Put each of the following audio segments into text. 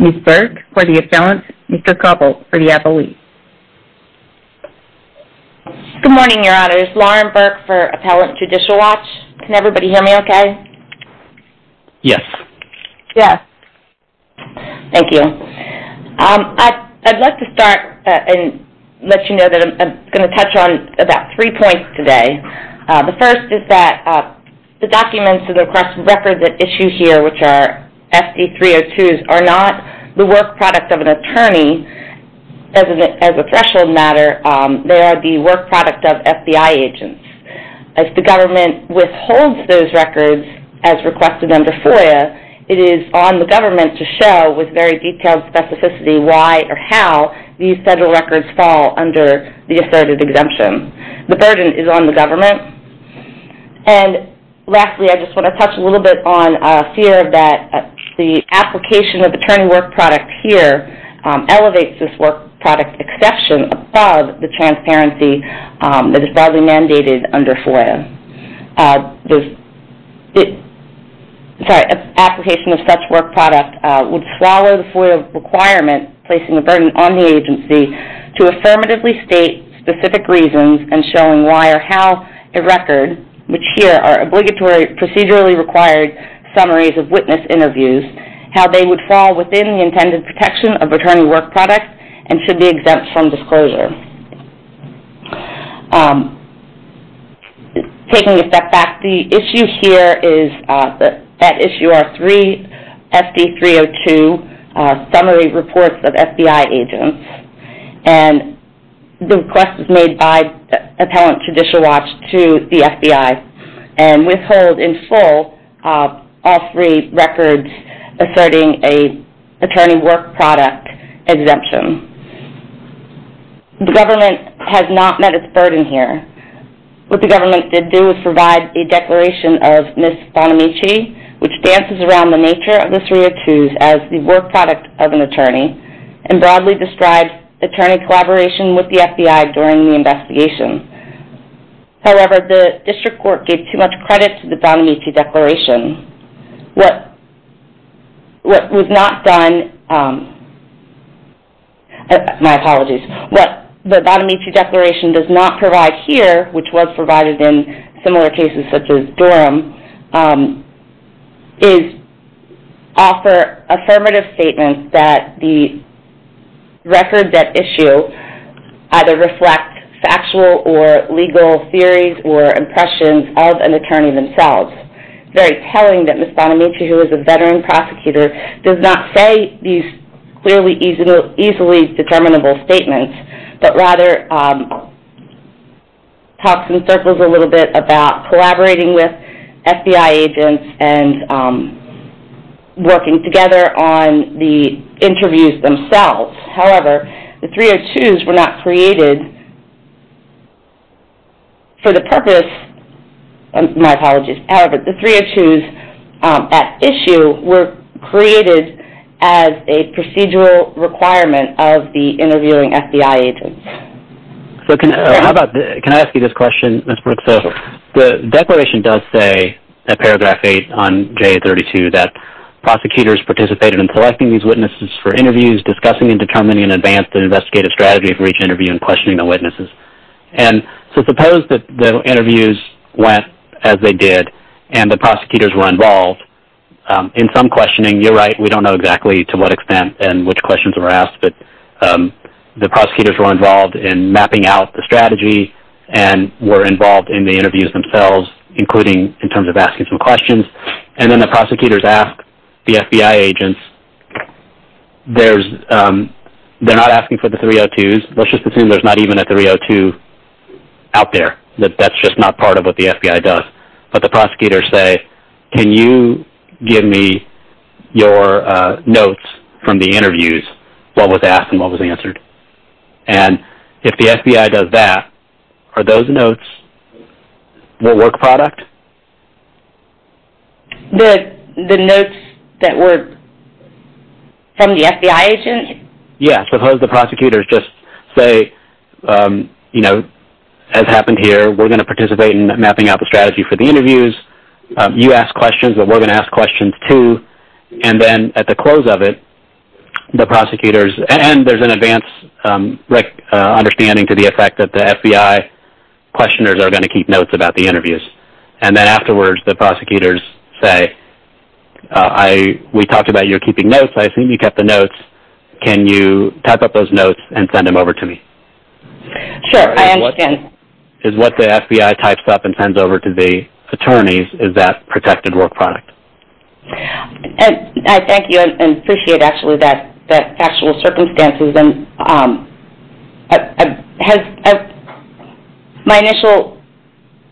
Ms. Burke for the appellant, Mr. Koppel for the appellee. Good morning, Your Honors. Lauren Burke for Appellant Judicial Watch. Can everybody hear me okay? Yes. Yes. I'm going to let you know that I'm going to touch on about three points today. The first is that the documents and records that issue here, which are SD302s, are not the work product of an attorney as a threshold matter. They are the work product of FBI agents. As the government withholds those records as requested under FOIA, it is on the government to show with very detailed specificity why or how these federal records fall under the asserted exemption. The burden is on the government. Lastly, I just want to touch a little bit on fear that the application of attorney work product here elevates this work product exception above the transparency that is broadly mandated under FOIA. The application of such work product would swallow the FOIA requirement placing a burden on the agency to affirmatively state specific reasons and showing why or how a record, which here are obligatory procedurally required summaries of witness interviews, how they would fall within the intended protection of attorney work product and should be exempt from disclosure. Taking a step back, the issue here is that that issue are three SD302 summary reports of FBI agents, and the request is made by appellant to dishwasher to the FBI and withhold in full all three records asserting a attorney work product exemption. The government has not met its burden here. What the government did do was provide a declaration of Ms. Bonamici, which dances around the nature of the 302s as the work product of an attorney and broadly describes attorney collaboration with the FBI during the investigation. However, the district court gave too much credit to the Bonamici Declaration. What was not done, my apologies, what the Bonamici Declaration does not provide here, which was provided in similar cases such as Durham, is offer affirmative statements that the records at issue either reflect factual or legal theories or impressions of an attorney themselves. Very telling that Ms. Bonamici, who is a veteran prosecutor, does not say these clearly easily determinable statements, but rather talks in circles a little bit about collaborating with FBI agents and working together on the interviews themselves. However, the 302s were not created for the purpose, my apologies, however the 302s at issue were created as a procedural requirement of the interviewing FBI agents. Can I ask you this question, Ms. Brooks? The declaration does say, at paragraph 8 on JA-32, that prosecutors participated in selecting these witnesses for interviews, discussing and determining in advance the investigative strategy for each interview and questioning the witnesses. So suppose that the interviews went as they did and the prosecutors were involved. In some questioning, you're right, we don't know exactly to what extent and which questions were asked, but the prosecutors were involved in mapping out the strategy and were involved in the interviews themselves, including in terms of asking some questions. And then the prosecutors ask the FBI agents, they're not asking for the 302s, let's just assume there's not even a 302 out there, that that's just not part of what the FBI does. But the prosecutors say, can you give me your notes from the interviews, what was asked and what was answered? And if the FBI does that, are those notes the work product? The notes that were from the FBI agents? Yes, suppose the prosecutors just say, you know, as happened here, we're going to participate in mapping out the strategy for the interviews. You ask questions, but we're going to ask questions too. And then at the close of it, the prosecutors, and there's an advanced understanding to the effect that the FBI questioners are going to keep notes about the interviews. And then afterwards, the prosecutors say, we talked about your keeping notes, I assume you kept the notes, can you type up those notes and send them over to me? Sure, I understand. Is what the FBI types up and sends over to the attorneys, is that protected work product? I thank you and appreciate actually that factual circumstances. My initial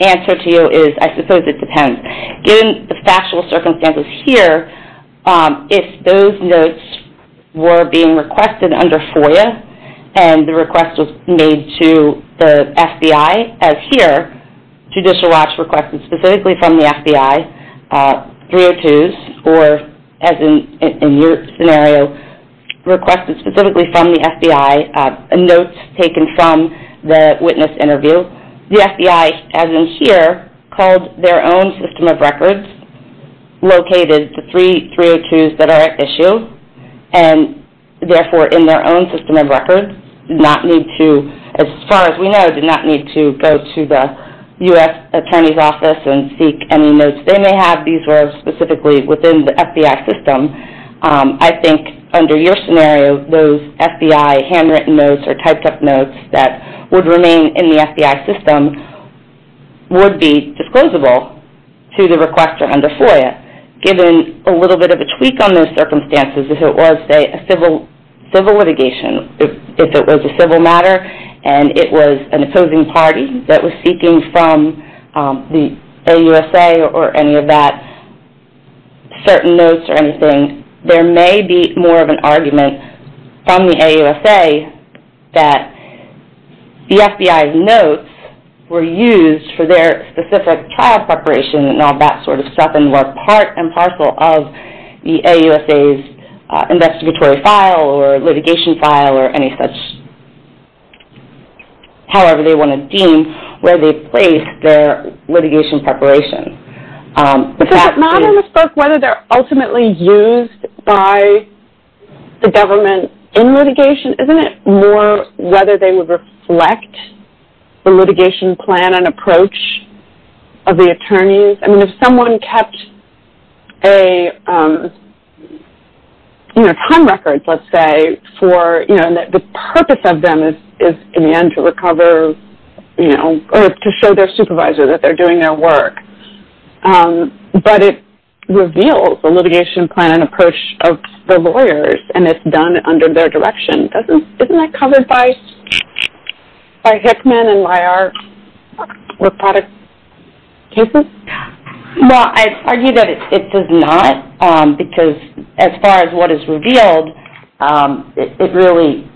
answer to you is, I suppose it depends. Given the factual circumstances here, if those notes were being requested under FOIA and the request was made to the FBI, as here, Judicial Watch requested specifically from the FBI 302s, or as in your scenario, requested specifically from the FBI notes taken from the witness interview. The FBI, as in here, called their own system of records, located the three 302s that are at issue, and therefore in their own system of records, did not need to, as far as we know, did not need to go to the U.S. Attorney's Office and seek any notes they may have. These were specifically within the FBI system. I think under your scenario, those FBI handwritten notes or typed up notes that would remain in the FBI system would be disclosable to the requester under FOIA. Given a little bit of a tweak on those circumstances, if it was a civil litigation, if it was a civil matter and it was an opposing party that was seeking from the AUSA or any of that, certain notes or anything, there may be more of an argument from the AUSA that the FBI's notes were used for their specific trial preparation and all that sort of stuff, and were part and parcel of the AUSA's investigatory file or litigation file or any such, however they want to deem, where they placed their litigation preparation. But says that not in this book whether they're ultimately used by the government in litigation. Isn't it more whether they would reflect the litigation plan and approach of the attorneys? I mean, if someone kept a, you know, time record, let's say, for, you know, and that the purpose of them is in the end to recover, you know, or to show their supervisor that they're doing their work, but it reveals the litigation plan and approach of the lawyers and it's done under their direction. Isn't that covered by Hickman and by our reported cases? Well, I argue that it does not because as far as what is revealed, it really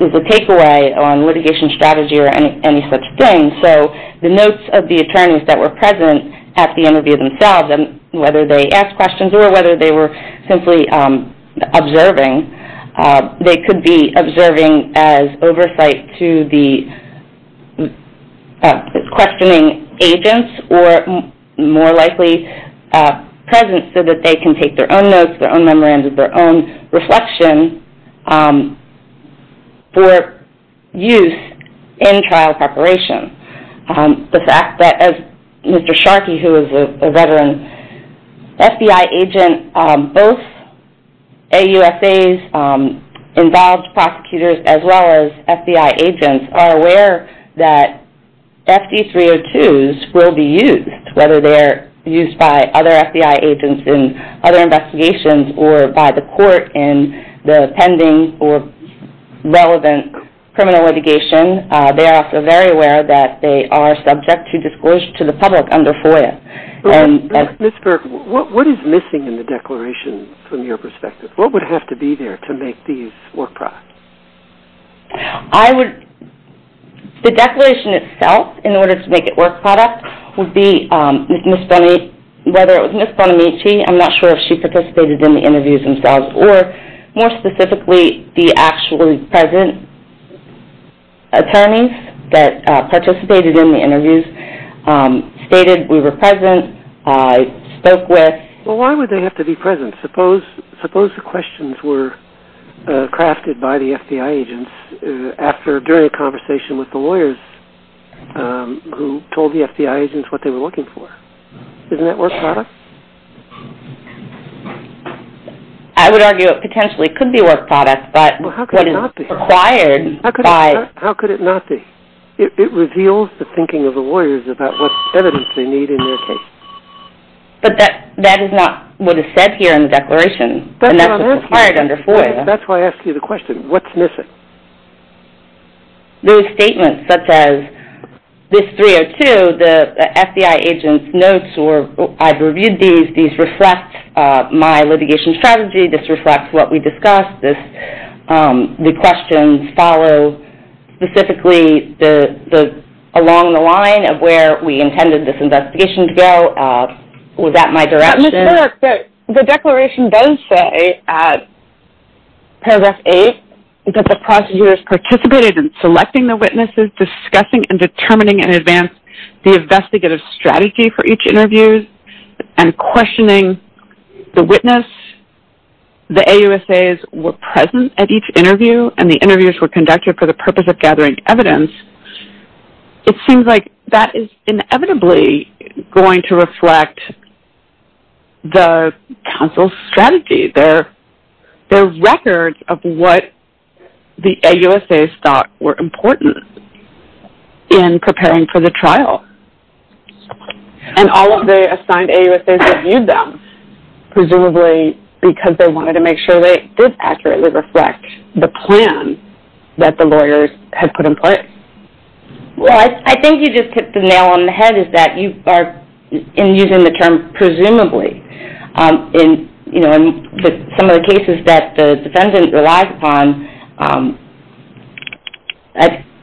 is a takeaway on litigation strategy or any such thing. So the notes of the attorneys that were present at the interview themselves, whether they asked questions or whether they were simply observing, they could be observing as oversight to the questioning agents or more likely present so that they can take their own notes, their own memoranda, their own reflection for use in trial preparation. The fact that as Mr. Sharkey, who is a veteran FBI agent, both AUSAs involved prosecutors as well as FBI agents are aware that FD302s will be used, whether they're used by other FBI agents in other investigations or by the court in the pending or relevant criminal litigation. They are also very aware that they are subject to disclosure to the public under FOIA. Ms. Burke, what is missing in the declaration from your perspective? What would have to be there to make these work products? The declaration itself in order to make it work products would be Ms. Bonamici. I'm not sure if she participated in the interviews themselves or more specifically the actually present attorneys that participated in the interviews stated, we were present, I spoke with. Well, why would they have to be present? Suppose the questions were crafted by the FBI agents during a conversation with the lawyers who told the FBI agents what they were looking for. Isn't that work product? I would argue it potentially could be work product, but it is required by... How could it not be? It reveals the thinking of the lawyers about what evidence they need in their case. But that is not what is said here in the declaration, and that's required under FOIA. That's why I asked you the question, what's missing? Those statements such as this 302, the FBI agents notes or I've reviewed these, these reflect my litigation strategy, this reflects what we discussed, the questions follow specifically along the line of where we intended this investigation to go. Was that my direction? The declaration does say, paragraph 8, that the prosecutors participated in selecting the witnesses, discussing and determining in advance the investigative strategy for each interview and questioning the witness, the AUSAs were present at each interview and the interviews were conducted for the purpose of gathering evidence. It seems like that is inevitably going to reflect the counsel's strategy, their records of what the AUSAs thought were important in preparing for the trial. And all of the assigned AUSAs reviewed them, presumably because they wanted to make sure that it did accurately reflect the plan that the lawyers had put in place. Well, I think you just hit the nail on the head is that you are using the term presumably. In some of the cases that the defendant relies upon,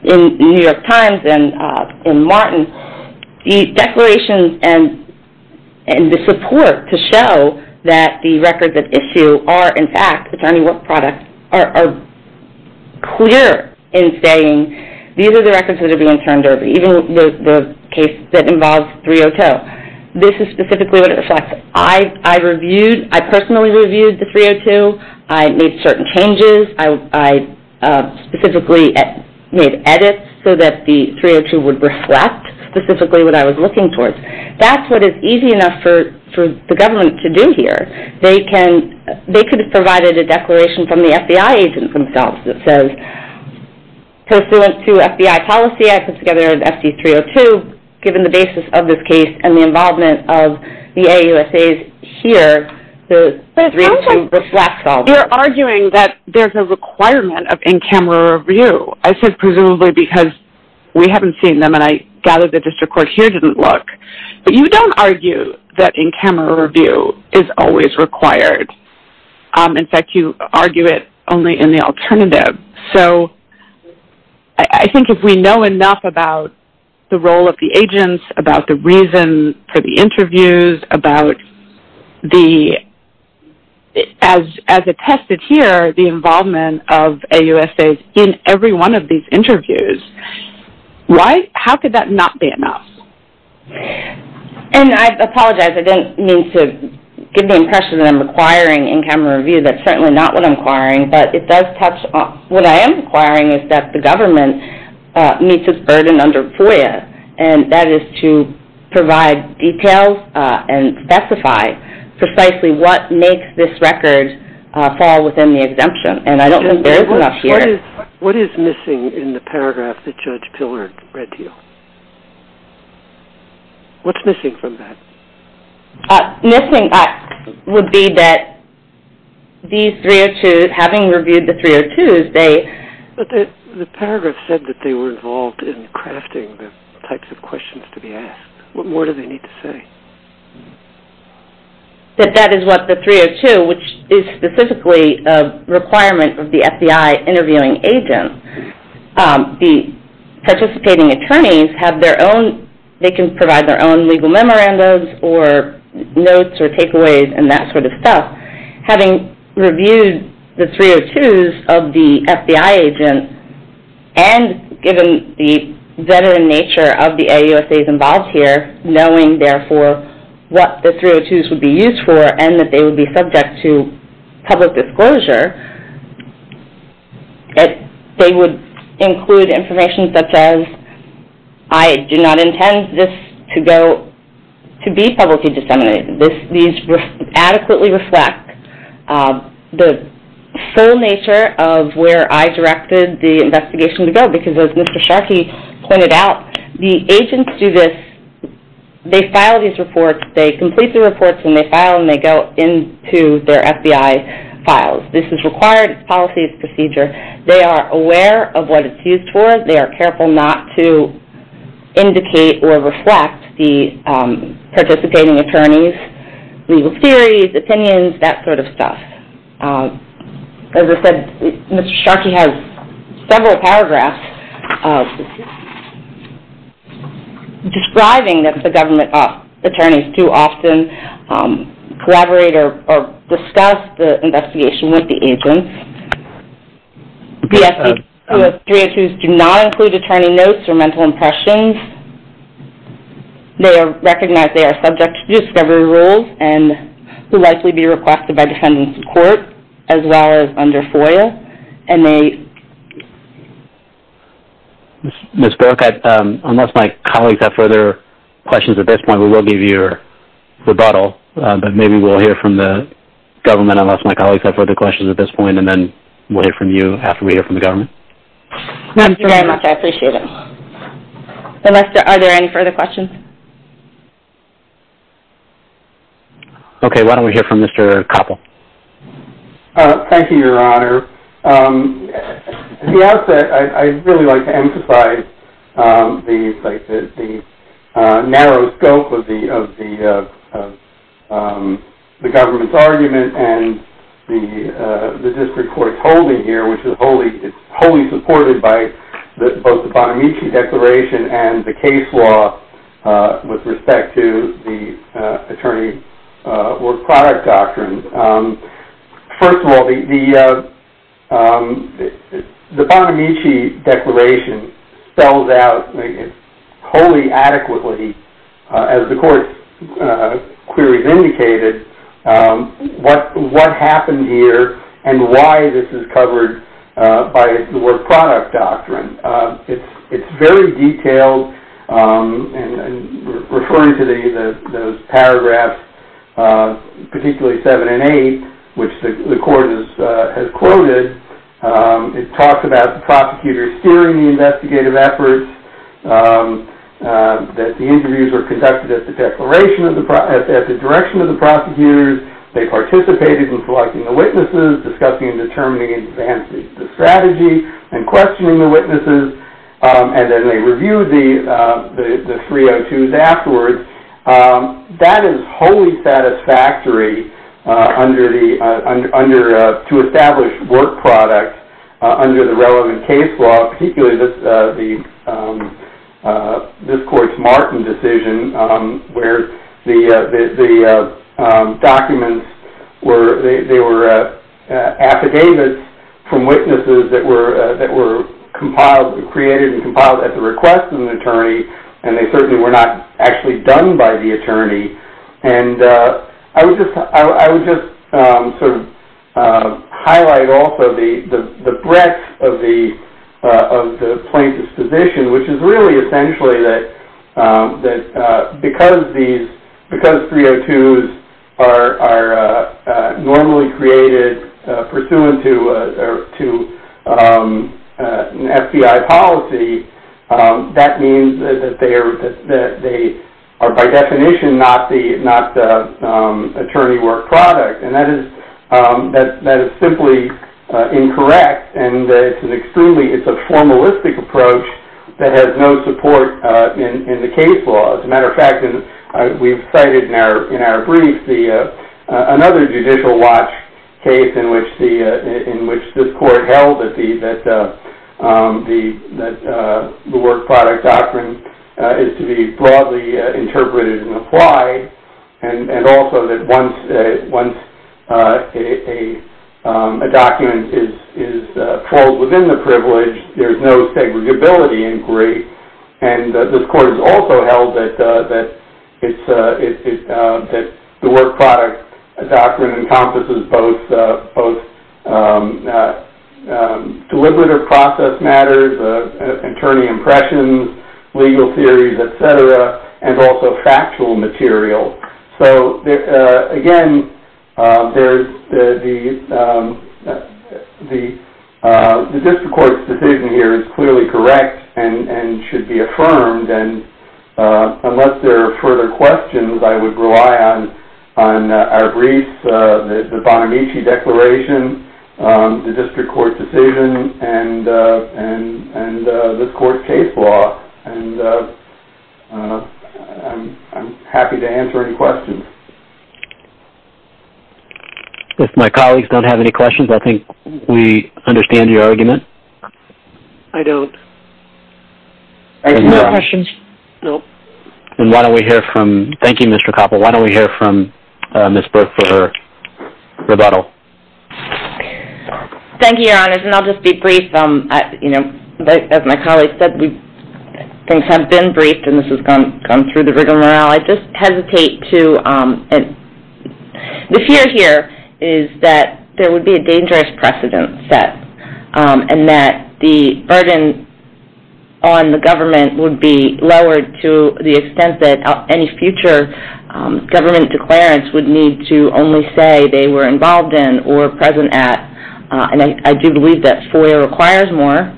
in New York Times and in Martin, the declarations and the support to show that the records at issue are in fact attorney work products are clear in saying these are the records that are being turned over, even the case that involves 302. This is specifically what it reflects. I reviewed, I personally reviewed the 302, I made certain changes, I specifically made edits so that the 302 would reflect specifically what I was looking towards. That's what is easy enough for the government to do here. They could have provided a declaration from the FBI agents themselves that says, pursuant to FBI policy, I put together an SD302, given the basis of this case and the involvement of the AUSAs here, the 302 reflects all this. You're arguing that there's a requirement of in-camera review. I said presumably because we haven't seen them and I gather the district court here didn't look. But you don't argue that in-camera review is always required. In fact, you argue it only in the alternative. So I think if we know enough about the role of the agents, about the reason for the interviews, about the, as attested here, the involvement of AUSAs in every one of these interviews, how could that not be enough? And I apologize. I didn't mean to give the impression that I'm requiring in-camera review. That's certainly not what I'm requiring. But it does touch on what I am requiring is that the government meets its burden under FOIA, and that is to provide details and specify precisely what makes this record fall within the exemption. And I don't think there is enough here. What is missing in the paragraph that Judge Pillard read to you? What's missing from that? Missing would be that these 302s, having reviewed the 302s, they... But the paragraph said that they were involved in crafting the types of questions to be asked. What more do they need to say? That that is what the 302, which is specifically a requirement of the FBI interviewing agent, the participating attorneys have their own, they can provide their own legal memorandums Having reviewed the 302s of the FBI agent, and given the veteran nature of the AUSAs involved here, knowing, therefore, what the 302s would be used for, and that they would be subject to public disclosure, they would include information such as, I do not intend this to be publicly disseminated. And these adequately reflect the full nature of where I directed the investigation to go, because as Mr. Sharkey pointed out, the agents do this, they file these reports, they complete the reports, and they file and they go into their FBI files. This is required, it's policy, it's procedure. They are aware of what it's used for. They are careful not to indicate or reflect the participating attorneys' legal theories, opinions, that sort of stuff. As I said, Mr. Sharkey has several paragraphs describing that the government attorneys too often collaborate or discuss the investigation with the agents. The 302s do not include attorney notes or mental impressions. They recognize they are subject to discovery rules and will likely be requested by defendants in court as well as under FOIA. And they... Ms. Burke, unless my colleagues have further questions at this point, we will give you a rebuttal. But maybe we'll hear from the government unless my colleagues have further questions at this point, and then we'll hear from you after we hear from the government. Thank you very much. I appreciate it. Are there any further questions? Okay, why don't we hear from Mr. Koppel. Thank you, Your Honor. At the outset, I'd really like to emphasize the narrow scope of the government's argument and the district court's holding here, which is wholly supported by both the Bonamici Declaration and the case law with respect to the attorney or product doctrine. First of all, the Bonamici Declaration spells out wholly adequately, as the court's queries indicated, what happened here and why this is covered by the word product doctrine. It's very detailed and referring to those paragraphs, particularly seven and eight, which the court has quoted. It talks about the prosecutor steering the investigative efforts, that the interviews were conducted at the direction of the prosecutors. They participated in selecting the witnesses, discussing and determining, advancing the strategy and questioning the witnesses, and then they reviewed the 302s afterwards. That is wholly satisfactory to establish work product under the relevant case law, particularly this court's Martin decision, where the documents were affidavits from witnesses that were created and compiled at the request of an attorney, and they certainly were not actually done by the attorney. I would just highlight also the breadth of the plaintiff's position, which is really essentially that because 302s are normally created pursuant to an FBI policy, that means that they are by definition not the attorney work product, and that is simply incorrect, and it's a formalistic approach that has no support in the case law. As a matter of fact, we've cited in our brief another judicial watch case in which this court held that the work product doctrine is to be broadly interpreted and applied, and also that once a document falls within the privilege, there's no segregability inquiry, and this court has also held that the work product doctrine encompasses both deliberative process matters, attorney impressions, legal theories, et cetera, and also factual material. So again, the district court's decision here is clearly correct and should be affirmed, and unless there are further questions, I would rely on our briefs, the Bonamici Declaration, the district court's decision, and this court's case law, and I'm happy to answer any questions. If my colleagues don't have any questions, I think we understand your argument. I don't. Any questions? No. Thank you, Mr. Koppel. Why don't we hear from Ms. Burke for her rebuttal? Thank you, Your Honors, and I'll just be brief. As my colleagues said, things have been briefed, and this has gone through the rig of morale. I just hesitate to... The fear here is that there would be a dangerous precedent set and that the burden on the government would be lowered to the extent that any future government declarants would need to only say they were involved in or present at, and I do believe that FOIA requires more,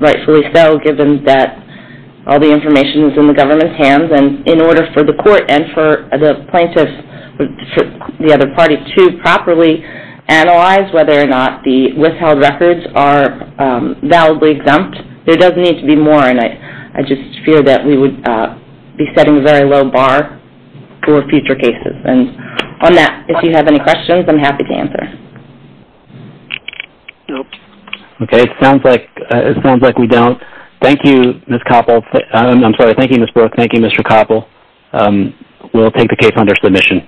rightfully so, given that all the information is in the government's hands, and in order for the court and for the plaintiffs, the other party, to properly analyze whether or not the withheld records are validly exempt, there does need to be more, and I just fear that we would be setting a very low bar for future cases. And on that, if you have any questions, I'm happy to answer. Nope. Okay. It sounds like we don't. Thank you, Ms. Burke. Thank you, Mr. Koppel. We'll take the case under submission.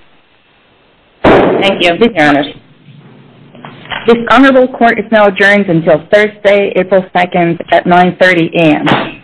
Thank you. Thank you, Your Honor. This honorable court is now adjourned until Thursday, April 2nd at 9.30 a.m.